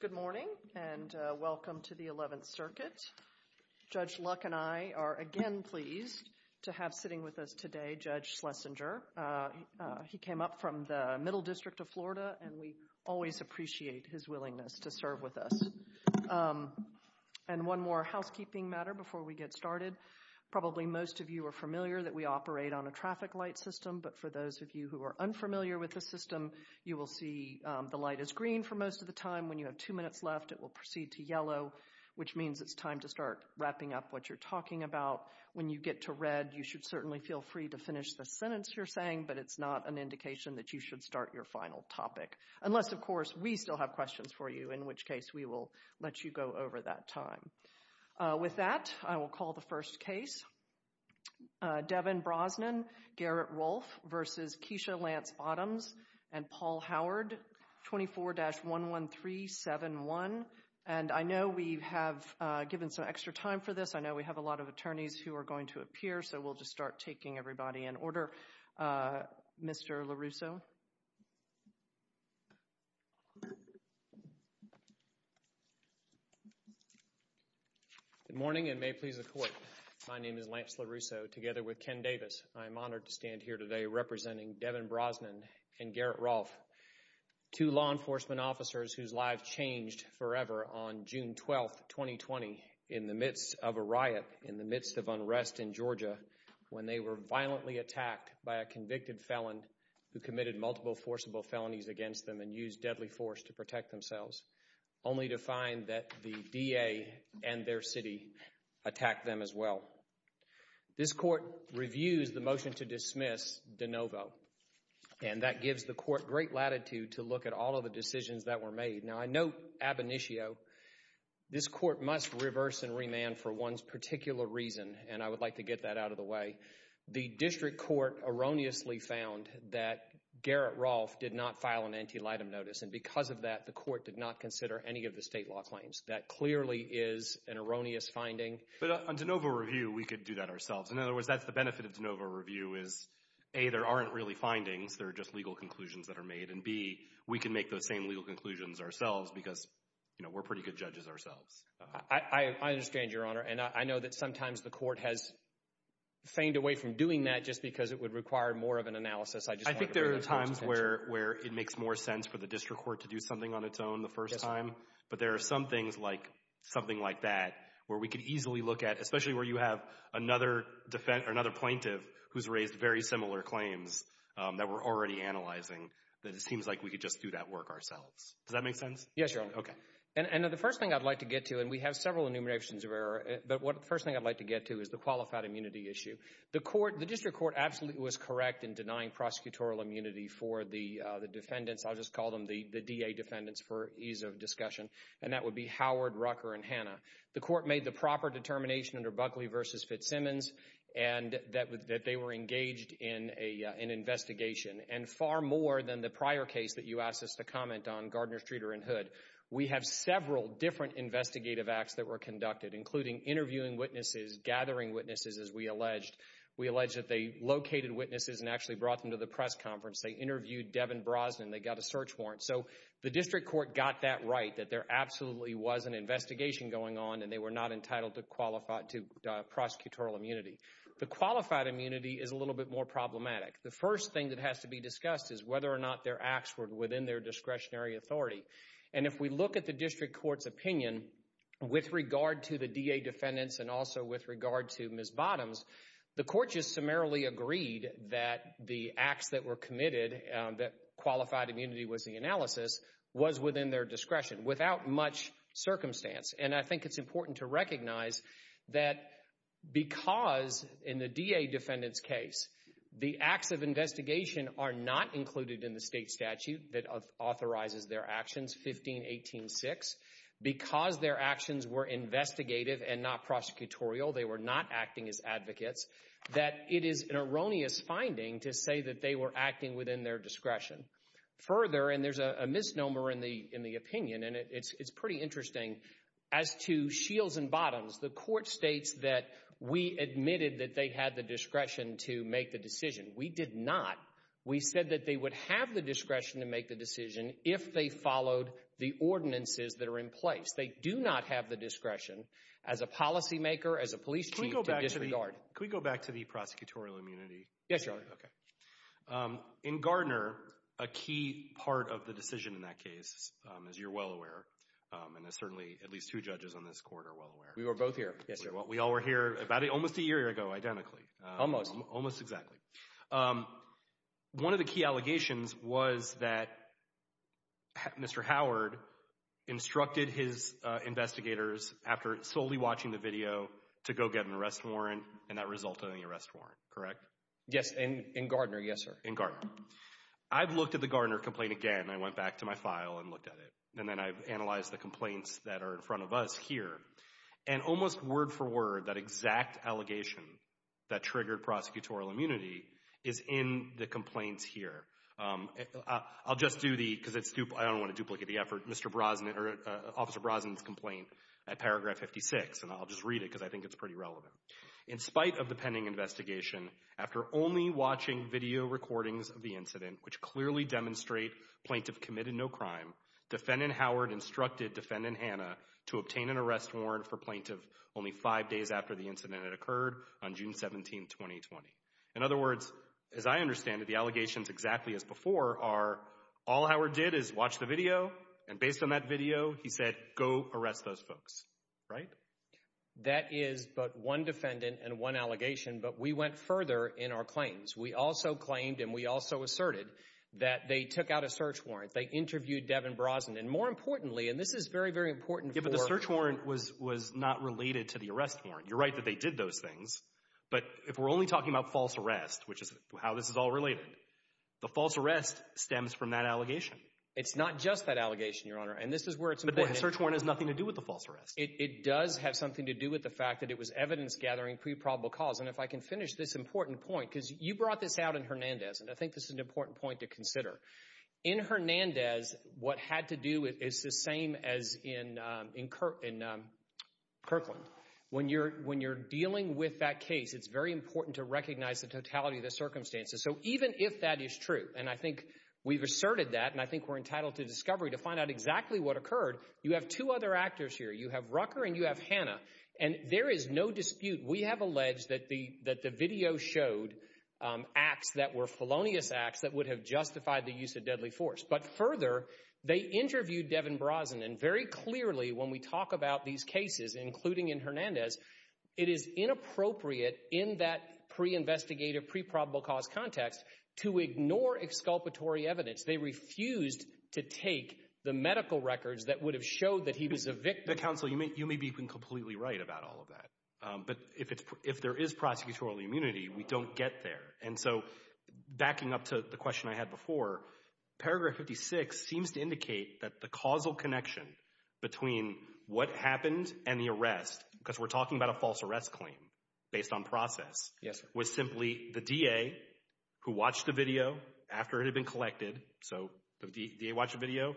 Good morning, and welcome to the Eleventh Circuit. Judge Luck and I are again pleased to have sitting with us today Judge Schlesinger. He came up from the Middle District of Florida, and we always appreciate his willingness to serve with us. And one more housekeeping matter before we get started. Probably most of you are familiar that we operate on a traffic light system, but for those of you who are unfamiliar with the system, you will see the light is green for most of the time. When you have two minutes left, it will proceed to yellow, which means it's time to start wrapping up what you're talking about. When you get to red, you should certainly feel free to finish the sentence you're saying, but it's not an indication that you should start your final topic. Unless, of course, we still have questions for you, in which case we will let you go over that time. With that, I will call the first case. Devin Brosnan, Garrett Rolfe v. Keisha Lance Bottoms and Paul Howard, 24-11371. And I know we have given some extra time for this. I know we have a lot of attorneys who are going to appear, so we'll just start taking everybody in order. Mr. LaRusso? Good morning and may it please the Court. My name is Lance LaRusso, together with Ken Davis. I am honored to stand here today representing Devin Brosnan and Garrett Rolfe, two law enforcement officers whose lives changed forever on June 12, 2020, in the midst of a riot, in the midst of unrest in Georgia, when they were violently attacked by a convicted felon who committed multiple forcible felonies against them and used deadly force to protect themselves, only to find that the DA and their city attacked them as well. This Court reviews the motion to dismiss DeNovo, and that gives the Court great latitude to look at all of the decisions that were made. Now, I note ab initio, this Court must reverse and remand for one's particular reason, and I would like to get that out of the way. The District Court erroneously found that Garrett Rolfe did not file an antelitum notice, and because of that, the Court did not consider any of the state law claims. That clearly is an erroneous finding. But on DeNovo review, we could do that ourselves. In other words, that's the benefit of DeNovo review is, A, there aren't really findings, there are just legal conclusions that are made, and B, we can make those same legal conclusions ourselves because, you know, we're pretty good judges ourselves. I understand, Your Honor, and I know that sometimes the Court has feigned away from doing that just because it would require more of an analysis. I just wanted to bring those points to attention. I think there are times where it makes more sense for the District Court to do something on its own the first time, but there are some things like, something like that, where we could easily look at, especially where you have another plaintiff who's raised very similar claims that we're already analyzing, that it seems like we could just do that work ourselves. Does that make sense? Yes, Your Honor. Okay. And the first thing I'd like to get to, and we have several enumerations of error, but the first thing I'd like to get to is the qualified immunity issue. The District Court absolutely was correct in denying prosecutorial immunity for the defendants. I'll just call them the DA defendants for ease of discussion, and that would be Howard, Rucker, and Hanna. The Court made the proper determination under Buckley v. Fitzsimmons that they were engaged in an investigation, and far more than the prior case that you asked us to comment on, Gardner, Streeter, and Hood. We have several different investigative acts that were conducted, including interviewing witnesses, gathering witnesses, as we alleged. We alleged that they located witnesses and actually brought them to the press conference. They interviewed Devin Brosnan. They got a search warrant. So, the District Court got that right, that there absolutely was an investigation going on and they were not entitled to prosecutorial immunity. The qualified immunity is a little bit more problematic. The first thing that has to be discussed is whether or not their acts were within their discretionary authority. And if we look at the District Court's opinion with regard to the DA defendants and also with regard to Ms. Bottoms, the Court just summarily agreed that the acts that were committed, that qualified immunity was the analysis, was within their discretion without much circumstance. And I think it's important to recognize that because in the DA defendant's case, the acts of investigation are not included in the state statute that authorizes their actions, 15-18-6. Because their actions were investigative and not prosecutorial, they were not acting as advocates, that it is an erroneous finding to say that they were acting within their discretion. Further, and there's a misnomer in the opinion, and it's pretty interesting, as to Shields and Bottoms, the Court states that we admitted that they had the discretion to make the decision. We did not. We said that they would have the discretion to make the decision if they followed the ordinances that are in place. They do not have the discretion, as a policymaker, as a police chief, to disregard. Can we go back to the prosecutorial immunity? Yes, Your Honor. Okay. In Gardner, a key part of the decision in that case, as you're well aware, and as certainly at least two judges on this Court are well aware. We were both here. Yes, Your Honor. We all were here about almost a year ago, identically. Almost. Almost exactly. One of the key allegations was that Mr. Howard instructed his investigators, after solely watching the video, to go get an arrest warrant, and that resulted in the arrest warrant, correct? Yes. In Gardner, yes, sir. In Gardner. I've looked at the Gardner complaint again. I went back to my file and looked at it, and then I've analyzed the complaints that are in front of us here, and almost word for word, that exact allegation that triggered prosecutorial immunity is in the complaints here. I'll just do the, because it's, I don't want to duplicate the effort, Mr. Brosnan, or Officer Brosnan's complaint at paragraph 56, and I'll just read it because I think it's pretty relevant. In spite of the pending investigation, after only watching video recordings of the incident, which clearly demonstrate Plaintiff committed no crime, Defendant Howard instructed Defendant Hannah to obtain an arrest warrant for Plaintiff only five days after the incident had occurred on June 17, 2020. In other words, as I understand it, the allegations, exactly as before, are all Howard did is watch the video, and based on that video, he said, go arrest those folks, right? That is but one defendant and one allegation, but we went further in our claims. We also claimed, and we also asserted, that they took out a search warrant. They interviewed Devin Brosnan, and more importantly, and this is very, very important for- Yeah, but the search warrant was not related to the arrest warrant. You're right that they did those things, but if we're only talking about false arrest, which is how this is all related, the false arrest stems from that allegation. It's not just that allegation, Your Honor, and this is where it's important- But the search warrant has nothing to do with the false arrest. It does have something to do with the fact that it was evidence-gathering pre-probable cause, and if I can finish this important point, because you brought this out in Hernandez, and I think this is an important point to consider. In Hernandez, what had to do is the same as in Kirkland. When you're dealing with that case, it's very important to recognize the totality of the circumstances, so even if that is true, and I think we've asserted that, and I think we're entitled to discovery to find out exactly what occurred, you have two other actors here. You have Rucker and you have Hannah, and there is no dispute, we have alleged that the video showed acts that were felonious acts that would have justified the use of deadly force, but further, they interviewed Devin Brosnan very clearly when we talk about these cases, including in Hernandez, it is inappropriate in that pre-investigative, pre-probable cause context to ignore exculpatory evidence. They refused to take the medical records that would have showed that he was a victim- Mr. Counsel, you may be completely right about all of that, but if there is prosecutorial immunity, we don't get there, and so backing up to the question I had before, paragraph 56 seems to indicate that the causal connection between what happened and the arrest, because we're talking about a false arrest claim based on process, was simply the DA who watched the video after it had been collected, so the DA watched the video,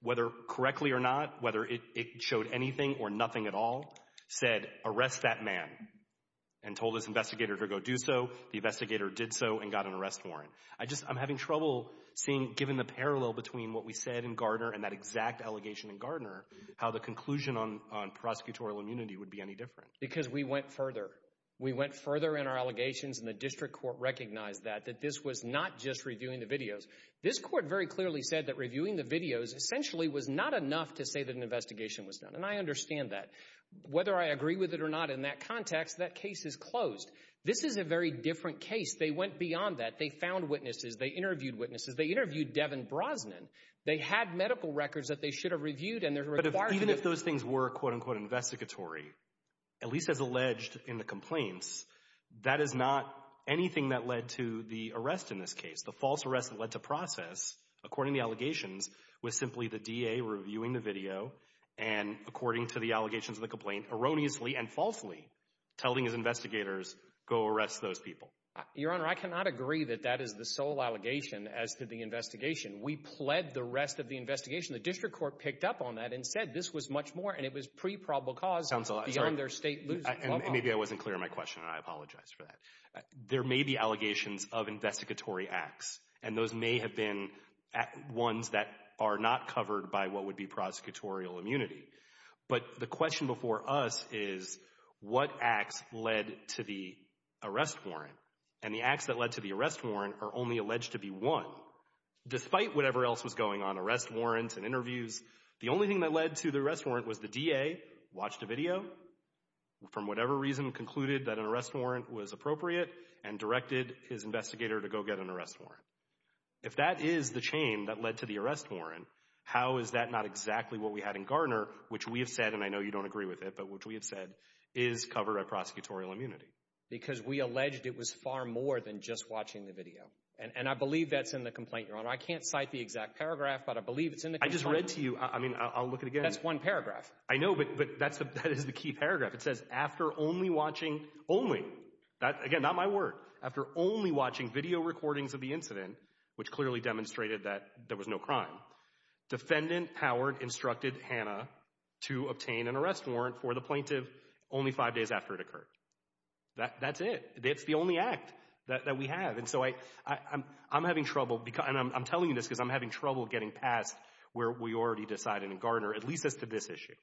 whether correctly or not, whether it showed anything or nothing at all, said, arrest that man, and told his investigator to go do so, the investigator did so and got an arrest warrant. I just, I'm having trouble seeing, given the parallel between what we said in Gardner and that exact allegation in Gardner, how the conclusion on prosecutorial immunity would be any different. Because we went further. We went further in our allegations and the district court recognized that, that this was not just reviewing the videos. This court very clearly said that reviewing the videos essentially was not enough to say that an investigation was done, and I understand that. Whether I agree with it or not, in that context, that case is closed. This is a very different case. They went beyond that. They found witnesses. They interviewed witnesses. They interviewed Devin Brosnan. They had medical records that they should have reviewed, and they're required to— But even if those things were, quote-unquote, investigatory, at least as alleged in the complaints, that is not anything that led to the arrest in this case. The false arrest that led to process, according to the allegations, was simply the DA reviewing the video and, according to the allegations of the complaint, erroneously and falsely telling his investigators, go arrest those people. Your Honor, I cannot agree that that is the sole allegation as to the investigation. We pled the rest of the investigation. The district court picked up on that and said this was much more, and it was pre-probable cause beyond their state— Sounds a lot— And maybe I wasn't clear in my question, and I apologize for that. There may be allegations of investigatory acts, and those may have been ones that are not covered by what would be prosecutorial immunity. But the question before us is, what acts led to the arrest warrant? And the acts that led to the arrest warrant are only alleged to be one. Despite whatever else was going on, arrest warrants and interviews, the only thing that led to the arrest warrant was the DA watched a video, from whatever reason concluded that an arrest warrant was appropriate, and directed his investigator to go get an arrest warrant. If that is the chain that led to the arrest warrant, how is that not exactly what we had in Garner, which we have said, and I know you don't agree with it, but which we have said is covered by prosecutorial immunity? Because we alleged it was far more than just watching the video. And I believe that's in the complaint, Your Honor. I can't cite the exact paragraph, but I believe it's in the complaint. I just read to you—I mean, I'll look at it again. That's one paragraph. I know, but that is the key paragraph. It says, after only watching—only, again, not my word—after only watching video recordings of the incident, which clearly demonstrated that there was no crime, Defendant Howard instructed Hannah to obtain an arrest warrant for the plaintiff only five days after it occurred. That's it. It's the only act that we have. And so I'm having trouble—and I'm telling you this because I'm having trouble getting past where we already decided in Garner, at least as to this issue.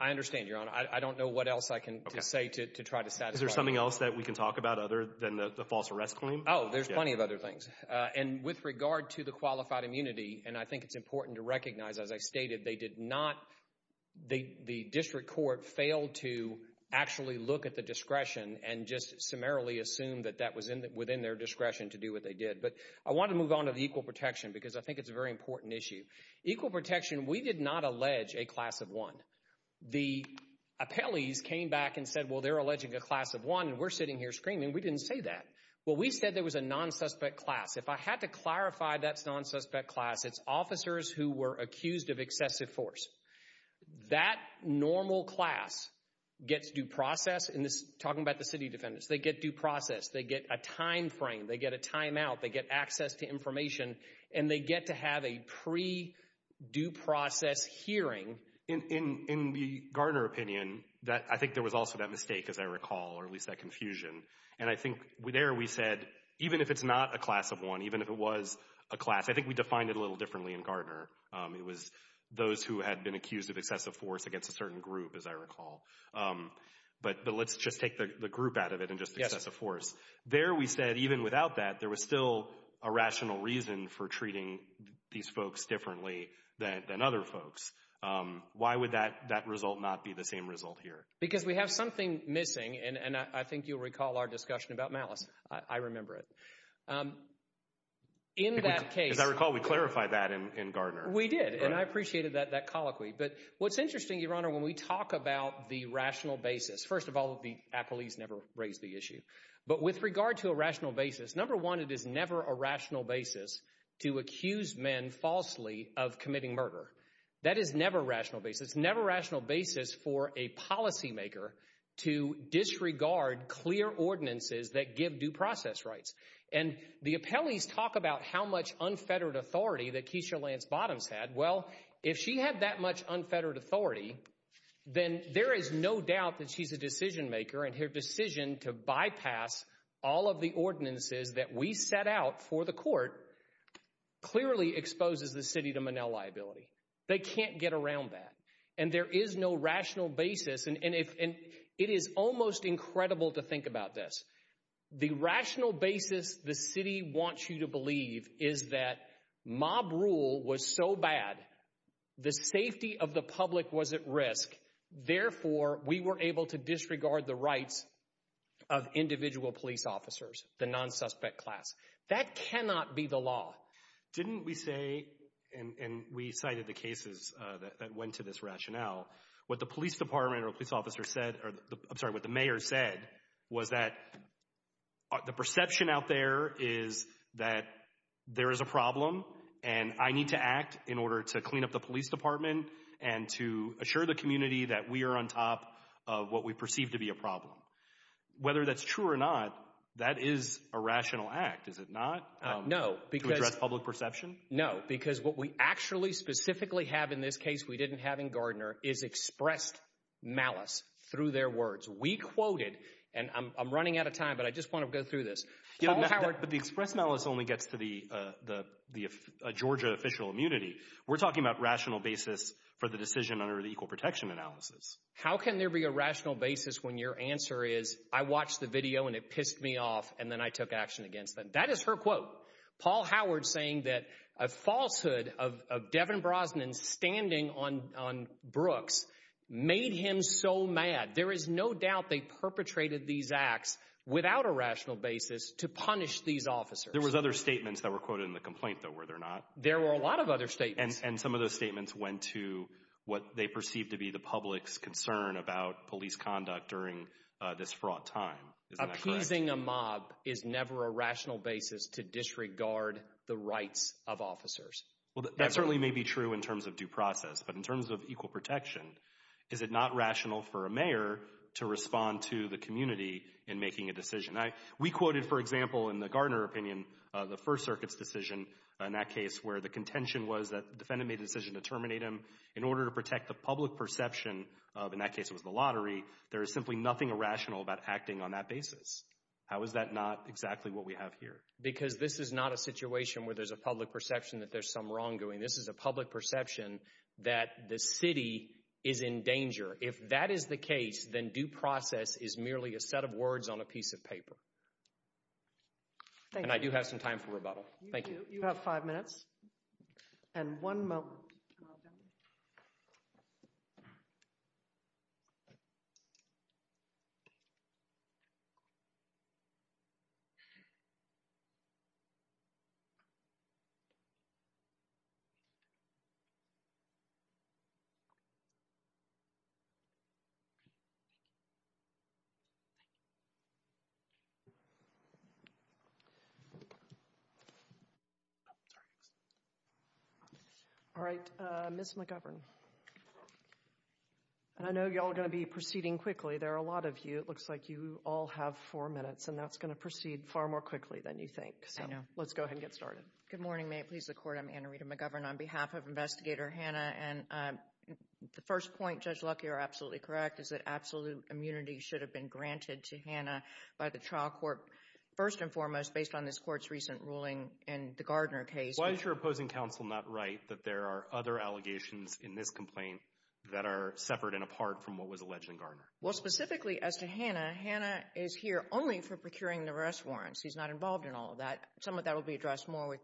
I understand, Your Honor. I don't know what else I can say to try to satisfy you. Is there something else that we can talk about other than the false arrest claim? Oh, there's plenty of other things. And with regard to the qualified immunity, and I think it's important to recognize, as I stated, they did not—the district court failed to actually look at the discretion and just summarily assume that that was within their discretion to do what they did. But I want to move on to the equal protection because I think it's a very important issue. Equal protection, we did not allege a class of one. The appellees came back and said, well, they're alleging a class of one, and we're sitting here screaming. We didn't say that. Well, we said there was a non-suspect class. If I had to clarify that's non-suspect class, it's officers who were accused of excessive force. That normal class gets due process in this—talking about the city defendants—they get due process. They get a time frame. They get a timeout. They get access to information. And they get to have a pre-due process hearing. In the Gardner opinion, I think there was also that mistake, as I recall, or at least that confusion. And I think there we said, even if it's not a class of one, even if it was a class—I think we defined it a little differently in Gardner. It was those who had been accused of excessive force against a certain group, as I recall. But let's just take the group out of it and just excessive force. There we said, even without that, there was still a rational reason for treating these folks differently than other folks. Why would that result not be the same result here? Because we have something missing, and I think you'll recall our discussion about malice. I remember it. In that case— As I recall, we clarified that in Gardner. We did. And I appreciated that colloquy. But what's interesting, Your Honor, when we talk about the rational basis—first of all, the appellees never raised the issue. But with regard to a rational basis, number one, it is never a rational basis to accuse men falsely of committing murder. That is never a rational basis. It's never a rational basis for a policymaker to disregard clear ordinances that give due process rights. And the appellees talk about how much unfettered authority that Keisha Lance Bottoms had. Well, if she had that much unfettered authority, then there is no doubt that she's a decision maker, and her decision to bypass all of the ordinances that we set out for the court clearly exposes the city to Monell liability. They can't get around that. And there is no rational basis, and it is almost incredible to think about this. The rational basis the city wants you to believe is that mob rule was so bad, the safety of the public was at risk, therefore, we were able to disregard the rights of individual police officers, the non-suspect class. That cannot be the law. Didn't we say, and we cited the cases that went to this rationale, what the police department or police officer said, I'm sorry, what the mayor said, was that the perception out there is that there is a problem, and I need to act in order to clean up the police department and to assure the community that we are on top of what we perceive to be a problem. Whether that's true or not, that is a rational act, is it not, to address public perception? No, because what we actually specifically have in this case we didn't have in Gardner is expressed malice through their words. We quoted, and I'm running out of time, but I just want to go through this, Paul Howard But the expressed malice only gets to the Georgia official immunity. We're talking about rational basis for the decision under the equal protection analysis. How can there be a rational basis when your answer is, I watched the video and it pissed me off and then I took action against them? That is her quote. Paul Howard saying that a falsehood of Devin Brosnan standing on Brooks made him so mad. There is no doubt they perpetrated these acts without a rational basis to punish these officers. There was other statements that were quoted in the complaint though, were there not? There were a lot of other statements. And some of those statements went to what they perceived to be the public's concern about police conduct during this fraught time, isn't that correct? Using a mob is never a rational basis to disregard the rights of officers. Well, that certainly may be true in terms of due process, but in terms of equal protection, is it not rational for a mayor to respond to the community in making a decision? We quoted, for example, in the Gardner opinion, the First Circuit's decision in that case where the contention was that the defendant made the decision to terminate him. In order to protect the public perception of, in that case it was the lottery, there is simply nothing irrational about acting on that basis. How is that not exactly what we have here? Because this is not a situation where there's a public perception that there's some wrongdoing. This is a public perception that the city is in danger. If that is the case, then due process is merely a set of words on a piece of paper. And I do have some time for rebuttal. Thank you. You have five minutes and one moment. All right, Jim, we'll let you come out now. Sorry. All right, Ms. McGovern, and I know y'all are going to be proceeding quickly. There are a lot of you. It looks like you all have four minutes, and that's going to proceed far more quickly than you think. So let's go ahead and get started. Good morning. May it please the Court. I'm Anna Rita McGovern. I'm on behalf of Investigator Hanna, and the first point, Judge Luckey, you're absolutely correct, is that absolute immunity should have been granted to Hanna by the trial court first and foremost based on this Court's recent ruling in the Gardner case. Why is your opposing counsel not right that there are other allegations in this complaint that are separate and apart from what was alleged in Gardner? Well, specifically as to Hanna, Hanna is here only for procuring the arrest warrants. She's not involved in all of that. Some of that will be addressed more with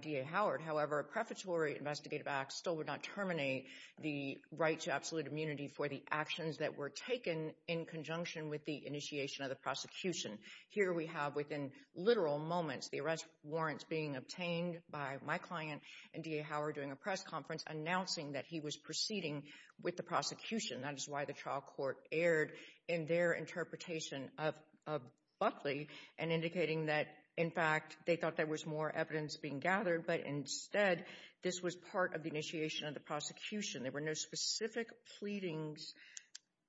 D.A. Howard. However, a prefatory investigative act still would not terminate the right to absolute immunity for the actions that were taken in conjunction with the initiation of the prosecution. Here we have within literal moments the arrest warrants being obtained by my client and D.A. Howard during a press conference announcing that he was proceeding with the prosecution. That is why the trial court erred in their interpretation of Buckley and indicating that in fact they thought there was more evidence being gathered, but instead this was part of the initiation of the prosecution. There were no specific pleadings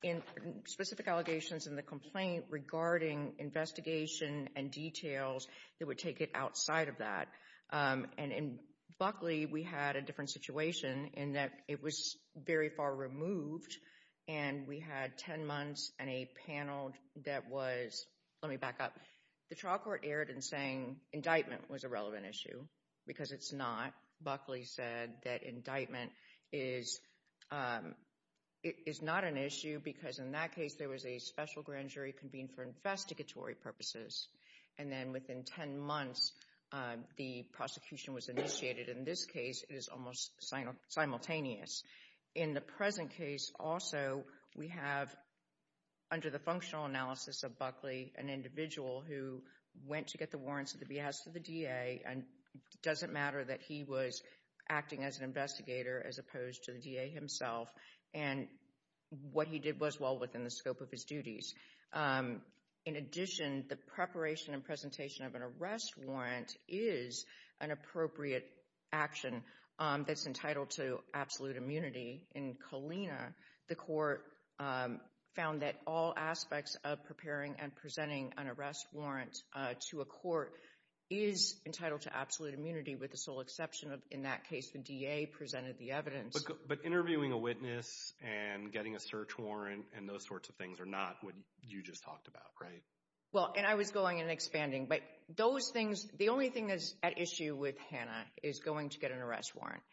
in specific allegations in the complaint regarding investigation and details that would take it outside of that. And in Buckley, we had a different situation in that it was very far removed and we had 10 months and a panel that was, let me back up. The trial court erred in saying indictment was a relevant issue because it's not. Buckley said that indictment is not an issue because in that case there was a special grand jury convened for investigatory purposes and then within 10 months the prosecution was initiated and in this case it is almost simultaneous. In the present case also, we have under the functional analysis of Buckley, an individual who went to get the warrants of the behest of the D.A. and it doesn't matter that he was acting as an investigator as opposed to the D.A. himself and what he did was well within the scope of his duties. In addition, the preparation and presentation of an arrest warrant is an appropriate action that's entitled to absolute immunity. In Colina, the court found that all aspects of preparing and presenting an arrest warrant to a court is entitled to absolute immunity with the sole exception of in that case the D.A. presented the evidence. But interviewing a witness and getting a search warrant and those sorts of things are not what you just talked about, right? Well, and I was going and expanding, but those things, the only thing that's at issue with Hanna is going to get an arrest warrant.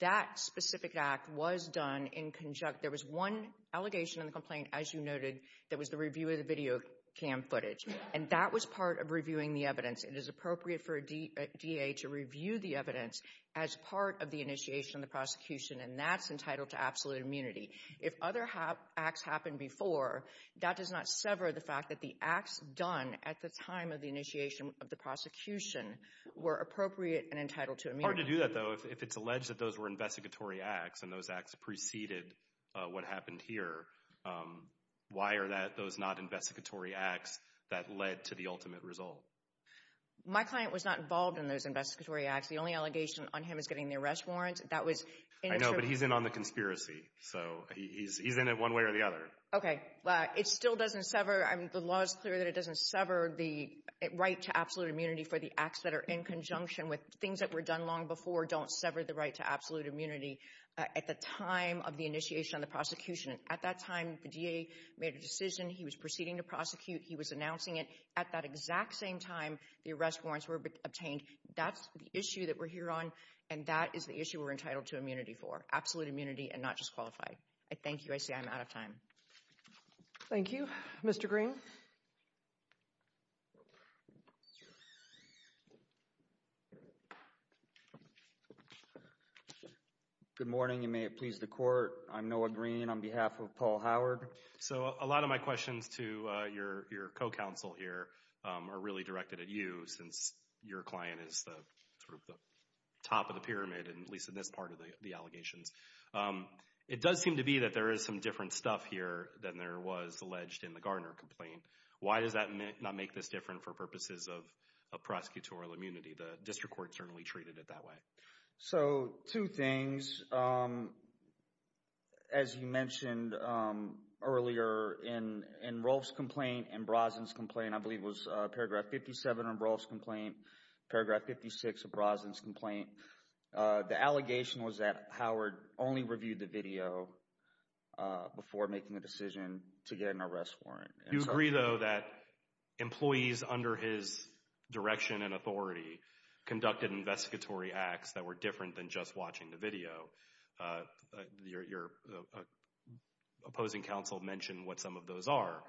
That specific act was done in conjunction, there was one allegation in the complaint as you noted that was the review of the video cam footage and that was part of reviewing the evidence. It is appropriate for a D.A. to review the evidence as part of the initiation of the prosecution and that's entitled to absolute immunity. If other acts happened before, that does not sever the fact that the acts done at the time of the initiation of the prosecution were appropriate and entitled to immunity. Hard to do that, though, if it's alleged that those were investigatory acts and those acts preceded what happened here, why are those not investigatory acts that led to the ultimate result? My client was not involved in those investigatory acts. The only allegation on him is getting the arrest warrant. That was in the— I know, but he's in on the conspiracy, so he's in it one way or the other. Okay. It still doesn't sever—the law is clear that it doesn't sever the right to absolute immunity for the acts that are in conjunction with things that were done long before don't sever the right to absolute immunity at the time of the initiation of the prosecution. At that time, the D.A. made a decision. He was proceeding to prosecute. He was announcing it. At that exact same time, the arrest warrants were obtained. That's the issue that we're here on and that is the issue we're entitled to immunity for. Absolute immunity and not just qualified. I thank you. I see I'm out of time. Thank you. Mr. Green? Good morning. You may please the court. I'm Noah Green on behalf of Paul Howard. So a lot of my questions to your co-counsel here are really directed at you since your client is the sort of the top of the pyramid, at least in this part of the allegations. It does seem to be that there is some different stuff here than there was alleged in the Garner complaint. Why does that not make this different for purposes of prosecutorial immunity? The district court certainly treated it that way. So two things. As you mentioned earlier in Rolfe's complaint and Brosnan's complaint, I believe it was paragraph 57 of Rolfe's complaint, paragraph 56 of Brosnan's complaint, the allegation was that Howard only reviewed the video before making a decision to get an arrest warrant. You agree though that employees under his direction and authority conducted investigatory acts that were different than just watching the video. Your opposing counsel mentioned what some of those are.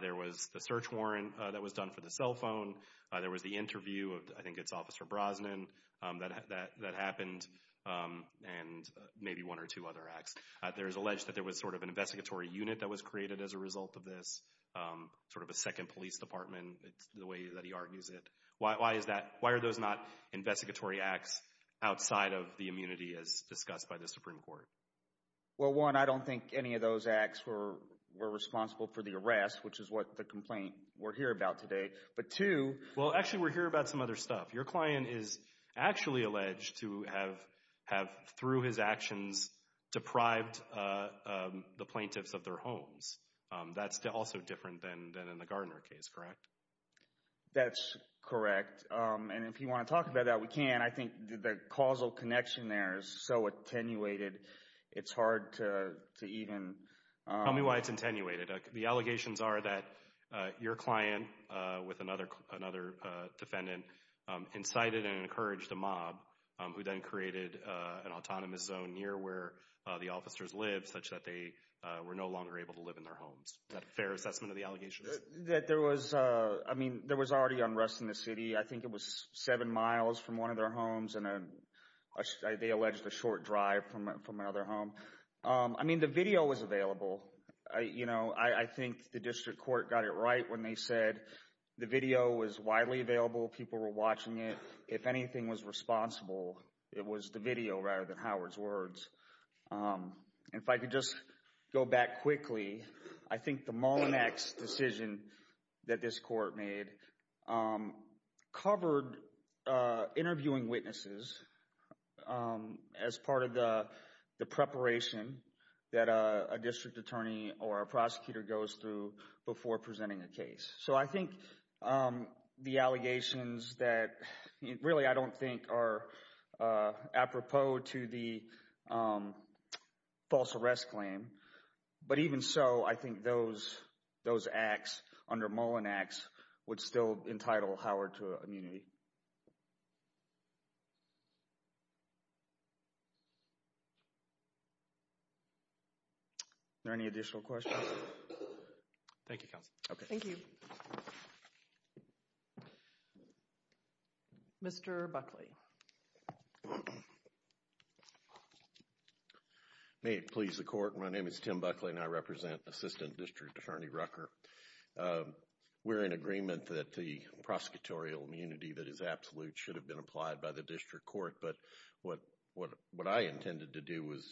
There was the search warrant that was done for the cell phone. There was the interview of I think it's Officer Brosnan that happened and maybe one or two other acts. There is alleged that there was sort of an investigatory unit that was created as a result of this, sort of a second police department, the way that he argues it. Why is that? Why are those not investigatory acts outside of the immunity as discussed by the Supreme Court? Well, one, I don't think any of those acts were responsible for the arrest, which is what the complaint we're here about today. But two... Well, actually, we're here about some other stuff. Your client is actually alleged to have, through his actions, deprived the plaintiffs of their homes. That's also different than in the Gardner case, correct? That's correct. And if you want to talk about that, we can. I think the causal connection there is so attenuated, it's hard to even... Tell me why it's attenuated. The allegations are that your client, with another defendant, incited and encouraged a mob, who then created an autonomous zone near where the officers lived, such that they were no longer able to live in their homes. Is that a fair assessment of the allegations? That there was... I mean, there was already unrest in the city. I think it was seven miles from one of their homes, and they alleged a short drive from another home. I mean, the video was available. I think the district court got it right when they said the video was widely available, people were watching it. If anything was responsible, it was the video rather than Howard's words. And if I could just go back quickly, I think the Mullinex decision that this court made covered interviewing witnesses as part of the preparation that a district attorney or a prosecutor goes through before presenting a case. So I think the allegations that... Really I don't think are apropos to the false arrest claim. But even so, I think those acts under Mullinex would still entitle Howard to immunity. Are there any additional questions? Thank you, counsel. Okay. Thank you. Mr. Buckley. May it please the court. My name is Tim Buckley, and I represent Assistant District Attorney Rucker. We're in agreement that the prosecutorial immunity that is absolute should have been applied by the district court, but what I intended to do was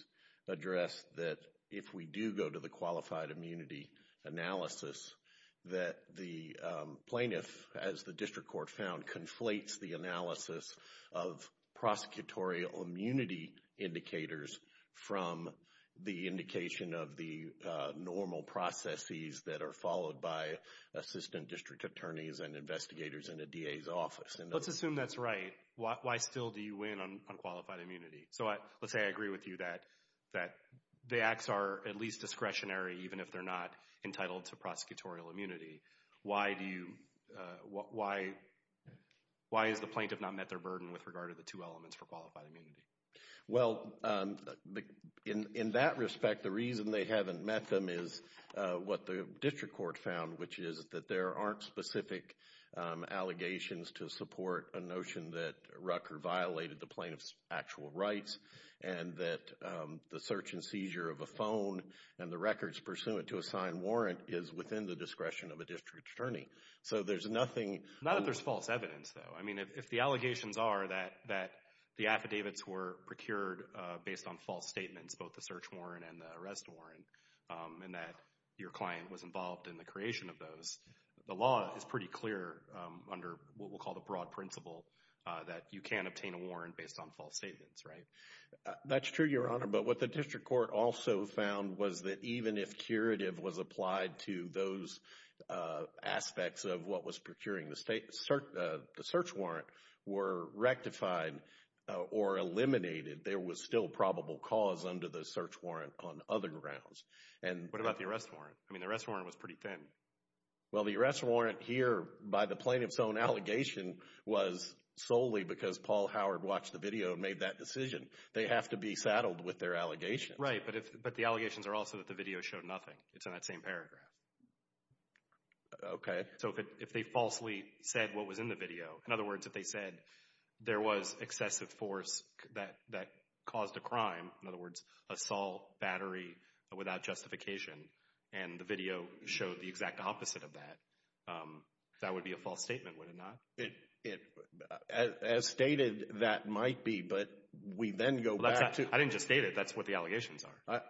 address that if we do go to the qualified immunity analysis, that the plaintiff, as the district court found, conflates the analysis of prosecutorial immunity indicators from the indication of the normal processes that are followed by assistant district attorneys and investigators in a DA's office. Let's assume that's right. Why still do you win on qualified immunity? So let's say I agree with you that the acts are at least discretionary even if they're not entitled to prosecutorial immunity. Why is the plaintiff not met their burden with regard to the two elements for qualified immunity? Well, in that respect, the reason they haven't met them is what the district court found, which is that there aren't specific allegations to support a notion that Rucker violated the plaintiff's actual rights and that the search and seizure of a phone and the records pursuant to a signed warrant is within the discretion of a district attorney. So there's nothing... Not that there's false evidence, though. I mean, if the allegations are that the affidavits were procured based on false statements, both the search warrant and the arrest warrant, and that your client was involved in the creation of those, the law is pretty clear under what we'll call the broad principle that you can't obtain a warrant based on false statements, right? That's true, Your Honor, but what the district court also found was that even if curative was applied to those aspects of what was procuring the search warrant were rectified or eliminated, there was still probable cause under the search warrant on other grounds. And what about the arrest warrant? I mean, the arrest warrant was pretty thin. Well, the arrest warrant here by the plaintiff's own allegation was solely because Paul Howard watched the video and made that decision. They have to be saddled with their allegations. Right, but the allegations are also that the video showed nothing. It's in that same paragraph. Okay. So if they falsely said what was in the video, in other words, if they said there was excessive force that caused a crime, in other words, assault, battery, without justification, and the video showed the exact opposite of that, that would be a false statement, would it not? It, as stated, that might be, but we then go back to... I didn't just state it. That's what the allegations are.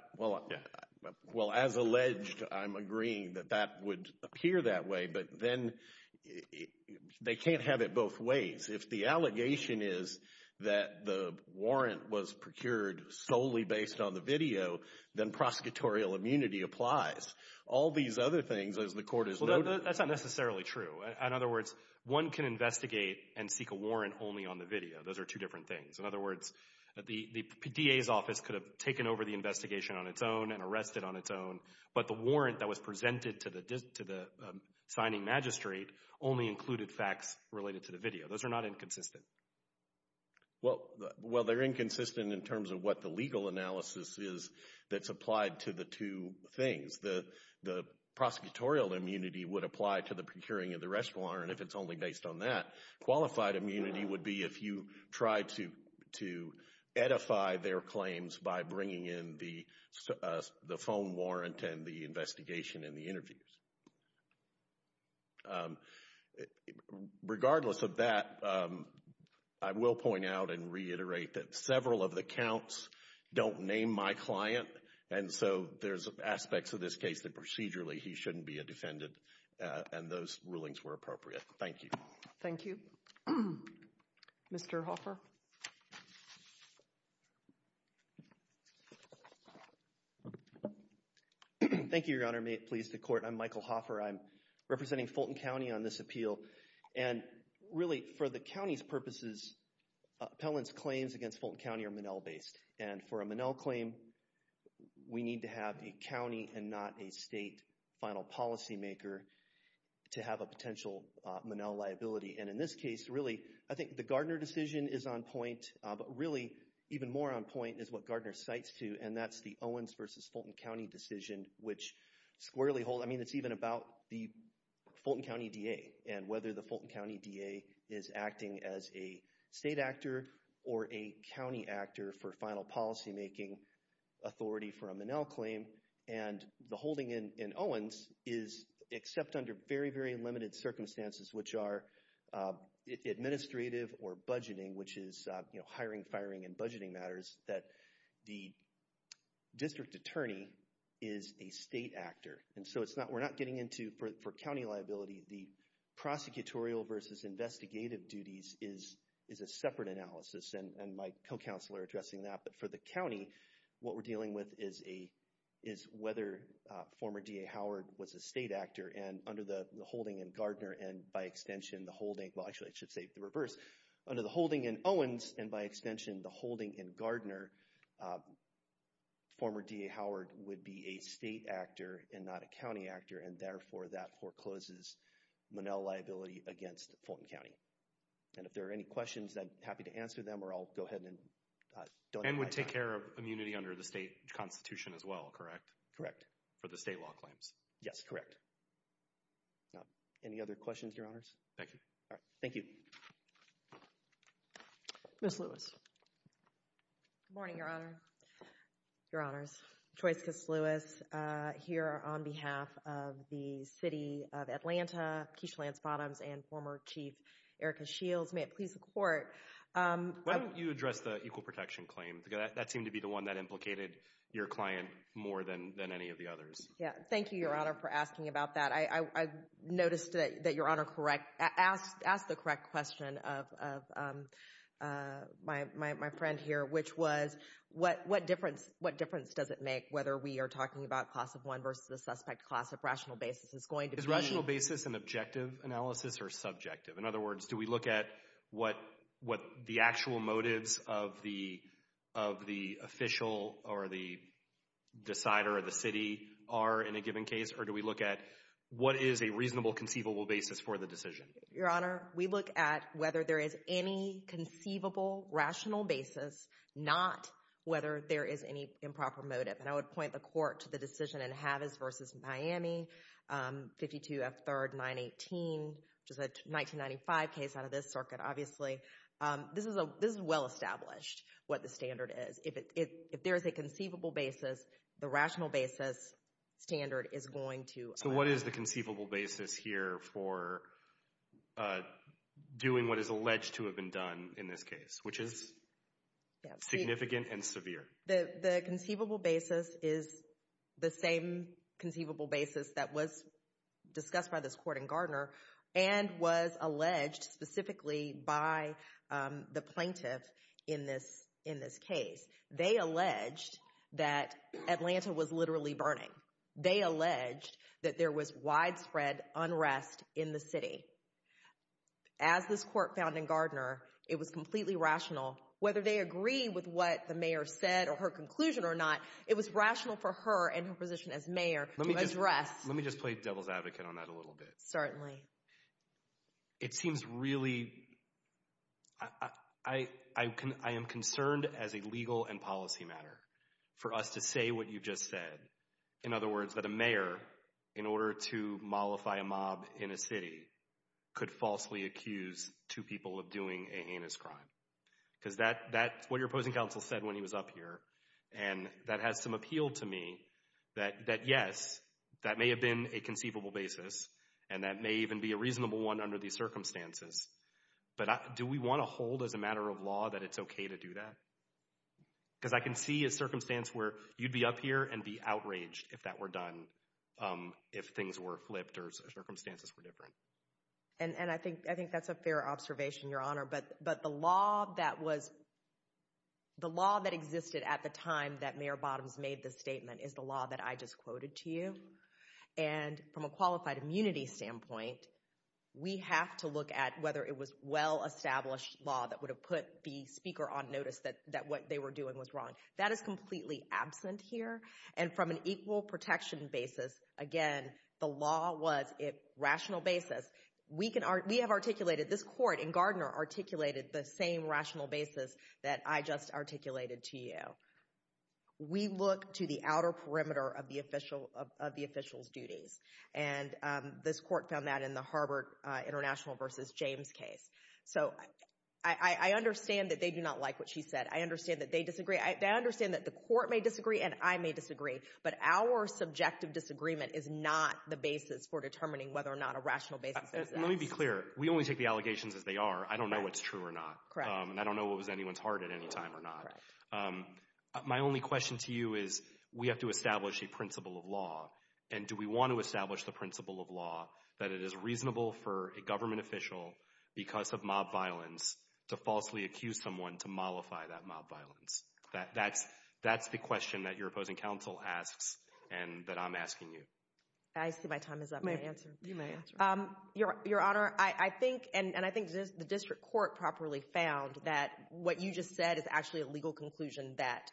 Well, as alleged, I'm agreeing that that would appear that way, but then they can't have it both ways. If the allegation is that the warrant was procured solely based on the video, then prosecutorial immunity applies. All these other things, as the court has noted... Well, that's not necessarily true. In other words, one can investigate and seek a warrant only on the video. Those are two different things. In other words, the PDA's office could have taken over the investigation on its own and arrested on its own, but the warrant that was presented to the signing magistrate only included facts related to the video. Those are not inconsistent. Well, they're inconsistent in terms of what the legal analysis is that's applied to the two things. The prosecutorial immunity would apply to the procuring of the restaurant, and if it's only based on that, qualified immunity would be if you tried to edify their claims by bringing in the phone warrant and the investigation and the interviews. Regardless of that, I will point out and reiterate that several of the counts don't name my client, and so there's aspects of this case that procedurally he shouldn't be a defendant, and those rulings were appropriate. Thank you. Thank you. Mr. Hoffer? Thank you, Your Honor. Please, the court. I'm Michael Hoffer. I'm representing Fulton County on this appeal, and really, for the county's purposes, Appellant's claims against Fulton County are Monell-based, and for a Monell claim, we need to have a county and not a state final policymaker to have a potential Monell liability, and in this case, really, I think the Gardner decision is on point, but really, even more on point is what Gardner cites to, and that's the Owens versus Fulton County decision, which squarely holds... I mean, it's even about the Fulton County DA and whether the Fulton County DA is acting as a state actor or a county actor for final policymaking authority for a Monell claim, and the holding in Owens is, except under very, very limited circumstances, which are administrative or budgeting, which is hiring, firing, and budgeting matters, that the district attorney is a state actor, and so we're not getting into, for county liability, the prosecutorial versus investigative duties is a separate analysis, and my co-counselor addressing that, but for the county, what we're dealing with is whether former DA Howard was a state actor, and under the holding in Gardner, and by extension, the holding... Well, actually, I should say the reverse. Under the holding in Owens, and by extension, the holding in Gardner, former DA Howard would be a state actor and not a county actor, and therefore, that forecloses Monell liability against Fulton County, and if there are any questions, I'm happy to answer them, or I'll go ahead and... And would take care of immunity under the state constitution as well, correct? Correct. For the state law claims? Yes, correct. Any other questions, your honors? Thank you. Thank you. Ms. Lewis. Good morning, your honor. Your honors. Joyce Lewis here on behalf of the City of Atlanta, Keisha Lance Bottoms, and former Chief Erica Shields. May it please the court... Why don't you address the equal protection claim? That seemed to be the one that implicated your client more than any of the others. Yeah. Thank you, your honor, for asking about that. I noticed that your honor asked the correct question of my friend here, which was what difference does it make whether we are talking about class of one versus the suspect class of rational basis? It's going to be... Is rational basis an objective analysis or subjective? In other words, do we look at what the actual motives of the official or the decider of the city are in a given case, or do we look at what is a reasonable conceivable basis for the decision? Your honor, we look at whether there is any conceivable rational basis, not whether there is any improper motive. And I would point the court to the decision in Havis versus Miami, 52 F. 3rd, 918, which is a 1995 case out of this circuit, obviously. This is well established what the standard is. If there's a conceivable basis, the rational basis standard is going to... So what is the conceivable basis here for doing what is alleged to have been done in this case, which is significant and severe? The conceivable basis is the same conceivable basis that was discussed by this court in Gardner and was alleged specifically by the plaintiff in this case. They alleged that Atlanta was literally burning. They alleged that there was widespread unrest in the city. As this court found in Gardner, it was completely rational. Whether they agree with what the mayor said or her conclusion or not, it was rational for her and her position as mayor to address... Let me just play devil's advocate on that a little bit. It seems really... I am concerned as a legal and policy matter for us to say what you've just said. In other words, that a mayor, in order to mollify a mob in a city, could falsely accuse two people of doing a heinous crime. Because that's what your opposing counsel said when he was up here, and that has some appeal to me that yes, that may have been a conceivable basis, and that may even be a reasonable one under these circumstances. But do we want to hold as a matter of law that it's okay to do that? Because I can see a circumstance where you'd be up here and be outraged if that were done, if things were flipped or circumstances were different. And I think that's a fair observation, Your Honor. But the law that existed at the time that Mayor Bottoms made this statement is the law that I just quoted to you. And from a qualified immunity standpoint, we have to look at whether it was well-established law that would have put the speaker on notice that what they were doing was wrong. That is completely absent here. And from an equal protection basis, again, the law was a rational basis. We have articulated, this court and Gardner articulated the same rational basis that I just articulated to you. We look to the outer perimeter of the official's duties. And this court found that in the Harvard International v. James case. So I understand that they do not like what she said. I understand that they disagree. I understand that the court may disagree, and I may disagree. But our subjective disagreement is not the basis for determining whether or not a rational basis exists. Let me be clear. We only take the allegations as they are. I don't know what's true or not. Correct. And I don't know what was in anyone's heart at any time or not. My only question to you is, we have to establish a principle of law. And do we want to establish the principle of law that it is reasonable for a government official, because of mob violence, to falsely accuse someone to mollify that mob violence? That's the question that your opposing counsel asks and that I'm asking you. I see my time is up. You may answer. Your Honor, I think, and I think the district court properly found that what you just said is actually a legal conclusion that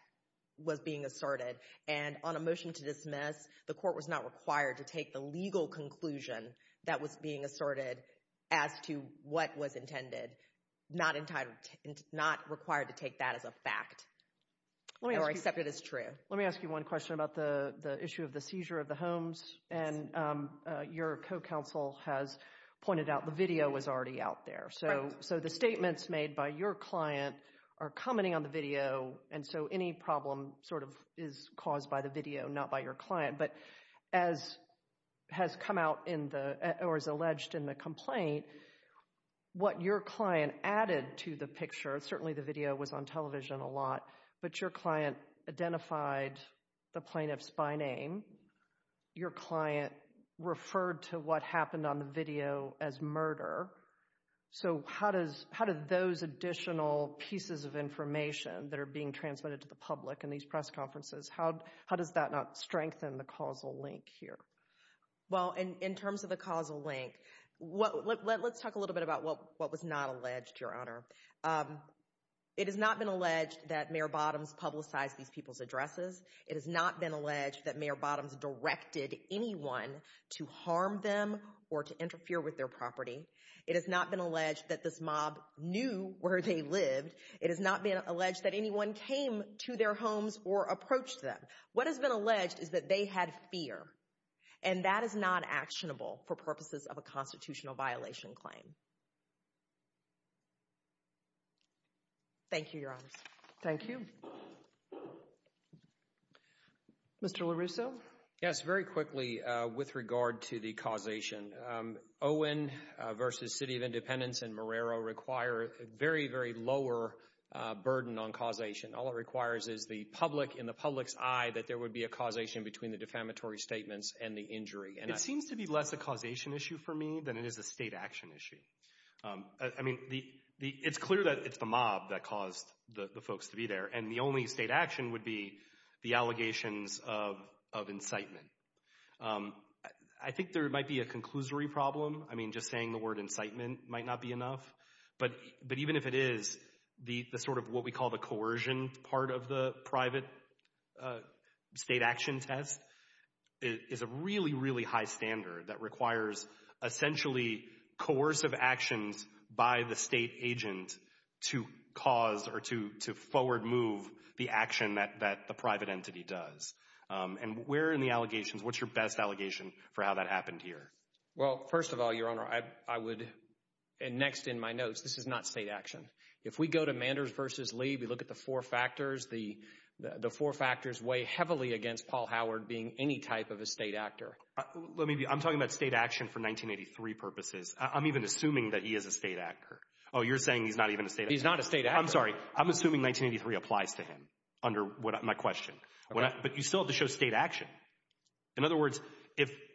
was being asserted. And on a motion to dismiss, the court was not required to take the legal conclusion that was being asserted as to what was intended. Not required to take that as a fact. Or accept it as true. Let me ask you one question about the issue of the seizure of the homes. And your co-counsel has pointed out the video was already out there. So the statements made by your client are commenting on the video. And so any problem sort of is caused by the video, not by your client. But as has come out in the, or is alleged in the complaint, what your client added to the picture, certainly the video was on television a lot, but your client identified the plaintiff's by name. Your client referred to what happened on the video as murder. So how does, how do those additional pieces of information that are being transmitted to the public in these press conferences, how does that not strengthen the causal link here? Well, in terms of the causal link, let's talk a little bit about what was not alleged, Your Honor. It has not been alleged that Mayor Bottoms publicized these people's addresses. It has not been alleged that Mayor Bottoms directed anyone to harm them or to interfere with their property. It has not been alleged that this mob knew where they lived. It has not been alleged that anyone came to their homes or approached them. What has been alleged is that they had fear. And that is not actionable for purposes of a constitutional violation claim. Thank you, Your Honors. Thank you. Mr. LaRusso? Yes, very quickly with regard to the causation. Owen versus City of Independence and Marrero require a very, very lower burden on causation. All it requires is the public, in the public's eye, that there would be a causation between the defamatory statements and the injury. It seems to be less a causation issue for me than it is a state action issue. I mean, it's clear that it's the mob that caused the folks to be there. And the only state action would be the allegations of incitement. I think there might be a conclusory problem. I mean, just saying the word incitement might not be enough. But even if it is, the sort of what we call the coercion part of the private state action test is a really, really high standard that requires essentially coercive actions by the state agent to cause or to forward move the action that the private entity does. And where in the allegations, what's your best allegation for how that happened here? Well, first of all, Your Honor, I would, and next in my notes, this is not state action. If we go to Manders versus Lee, we look at the four factors, the four factors weigh heavily against Paul Howard being any type of a state actor. Let me be, I'm talking about state action for 1983 purposes. I'm even assuming that he is a state actor. Oh, you're saying he's not even a state actor? He's not a state actor. I'm sorry. I'm assuming 1983 applies to him under my question. But you still have to show state action. In other words,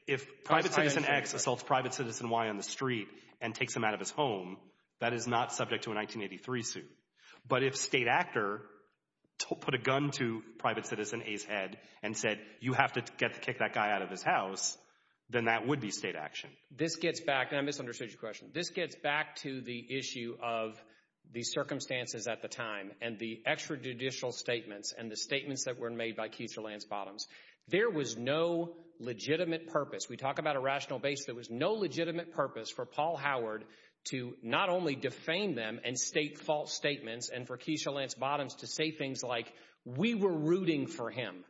if Private Citizen X assaults Private Citizen Y on the street and takes him out of his home, that is not subject to a 1983 suit. But if state actor put a gun to Private Citizen A's head and said, you have to get to kick that guy out of his house, then that would be state action. This gets back, and I misunderstood your question. This gets back to the issue of the circumstances at the time and the extrajudicial statements and the statements that were made by Keisha Lance Bottoms. There was no legitimate purpose. We talk about a rational base. There was no legitimate purpose for Paul Howard to not only defame them and state false statements and for Keisha Lance Bottoms to say things like, we were rooting for him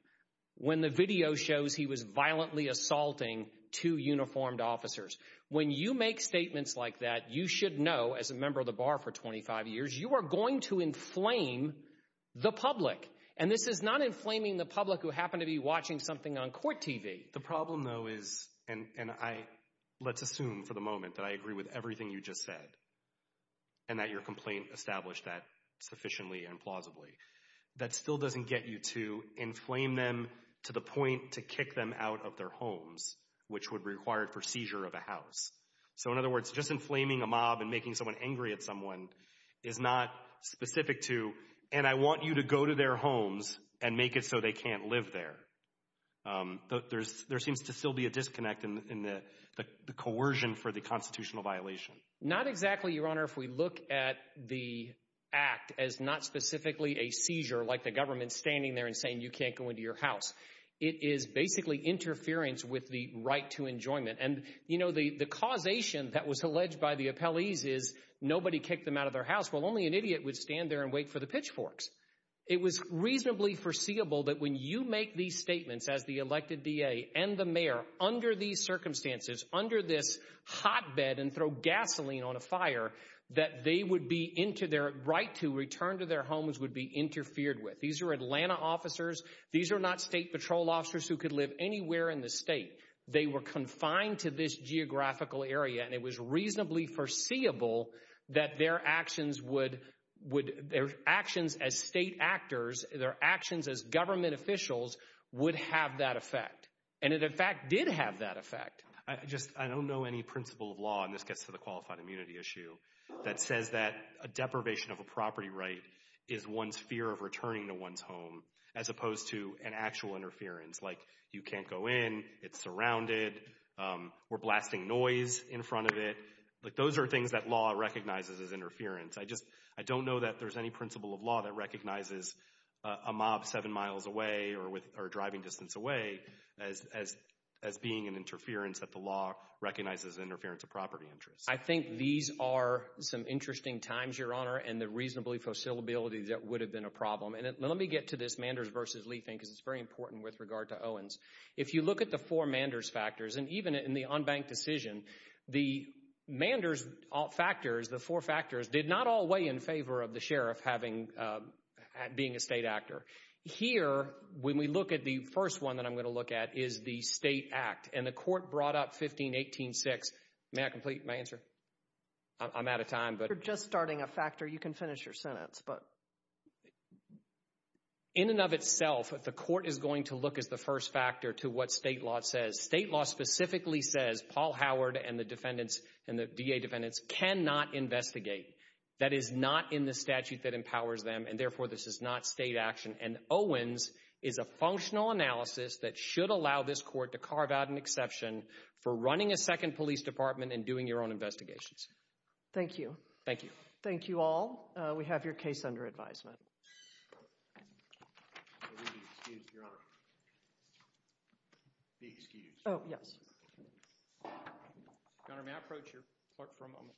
when the video shows he was violently assaulting two uniformed officers. When you make statements like that, you should know, as a member of the bar for 25 years, you are going to inflame the public. And this is not inflaming the public who happen to be watching something on court TV. The problem, though, is, and I, let's assume for the moment that I agree with everything you just said and that your complaint established that sufficiently and plausibly, that still doesn't get you to inflame them to the point to kick them out of their homes, which would be required for seizure of a house. So, in other words, just inflaming a mob and making someone angry at someone is not specific to, and I want you to go to their homes and make it so they can't live there. There seems to still be a disconnect in the coercion for the constitutional violation. Not exactly, Your Honor, if we look at the act as not specifically a seizure, like the government standing there and saying you can't go into your house. It is basically interference with the right to enjoyment. And, you know, the causation that was alleged by the appellees is nobody kicked them out of their house. Well, only an idiot would stand there and wait for the pitchforks. It was reasonably foreseeable that when you make these statements as the elected D.A. and the mayor, under these circumstances, under this hotbed and throw gasoline on a fire, that they would be into their right to return to their homes would be interfered with. These are Atlanta officers. These are not state patrol officers who could live anywhere in the state. They were confined to this geographical area, and it was reasonably foreseeable that their actions would, their actions as state actors, their actions as government officials, would have that effect. And it, in fact, did have that effect. I just, I don't know any principle of law, and this gets to the qualified immunity issue, that says that a deprivation of a property right is one's fear of returning to one's home as opposed to an actual interference. Like, you can't go in, it's surrounded, we're blasting noise in front of it. Like, those are things that law recognizes as interference. I just, I don't know that there's any principle of law that recognizes a mob seven miles away or with, or driving distance away as being an interference that the law recognizes as interference of property interests. I think these are some interesting times, Your Honor, and the reasonably foreseeability that would have been a problem. And let me get to this Manders versus Lee thing, because it's very important with regard to Owens. If you look at the four Manders factors, and even in the unbanked decision, the Manders factors, the four factors, did not all weigh in favor of the sheriff having, being a state actor. Here, when we look at the first one that I'm going to look at, is the state act. And the court brought up 1518-6. May I complete my answer? I'm out of time, but... You're just starting a factor. You can finish your sentence, but... In and of itself, the court is going to look as the first factor to what state law says. State law specifically says Paul Howard and the defendants, and the DA defendants, cannot investigate. That is not in the statute that empowers them, and therefore, this is not state action. And Owens is a functional analysis that should allow this court to carve out an exception for running a second police department and doing your own investigations. Thank you. Thank you. Thank you all. We have your case under advisement. I would be excused, Your Honor. Be excused. Oh, yes. Governor, may I approach your clerk for a moment? Yes.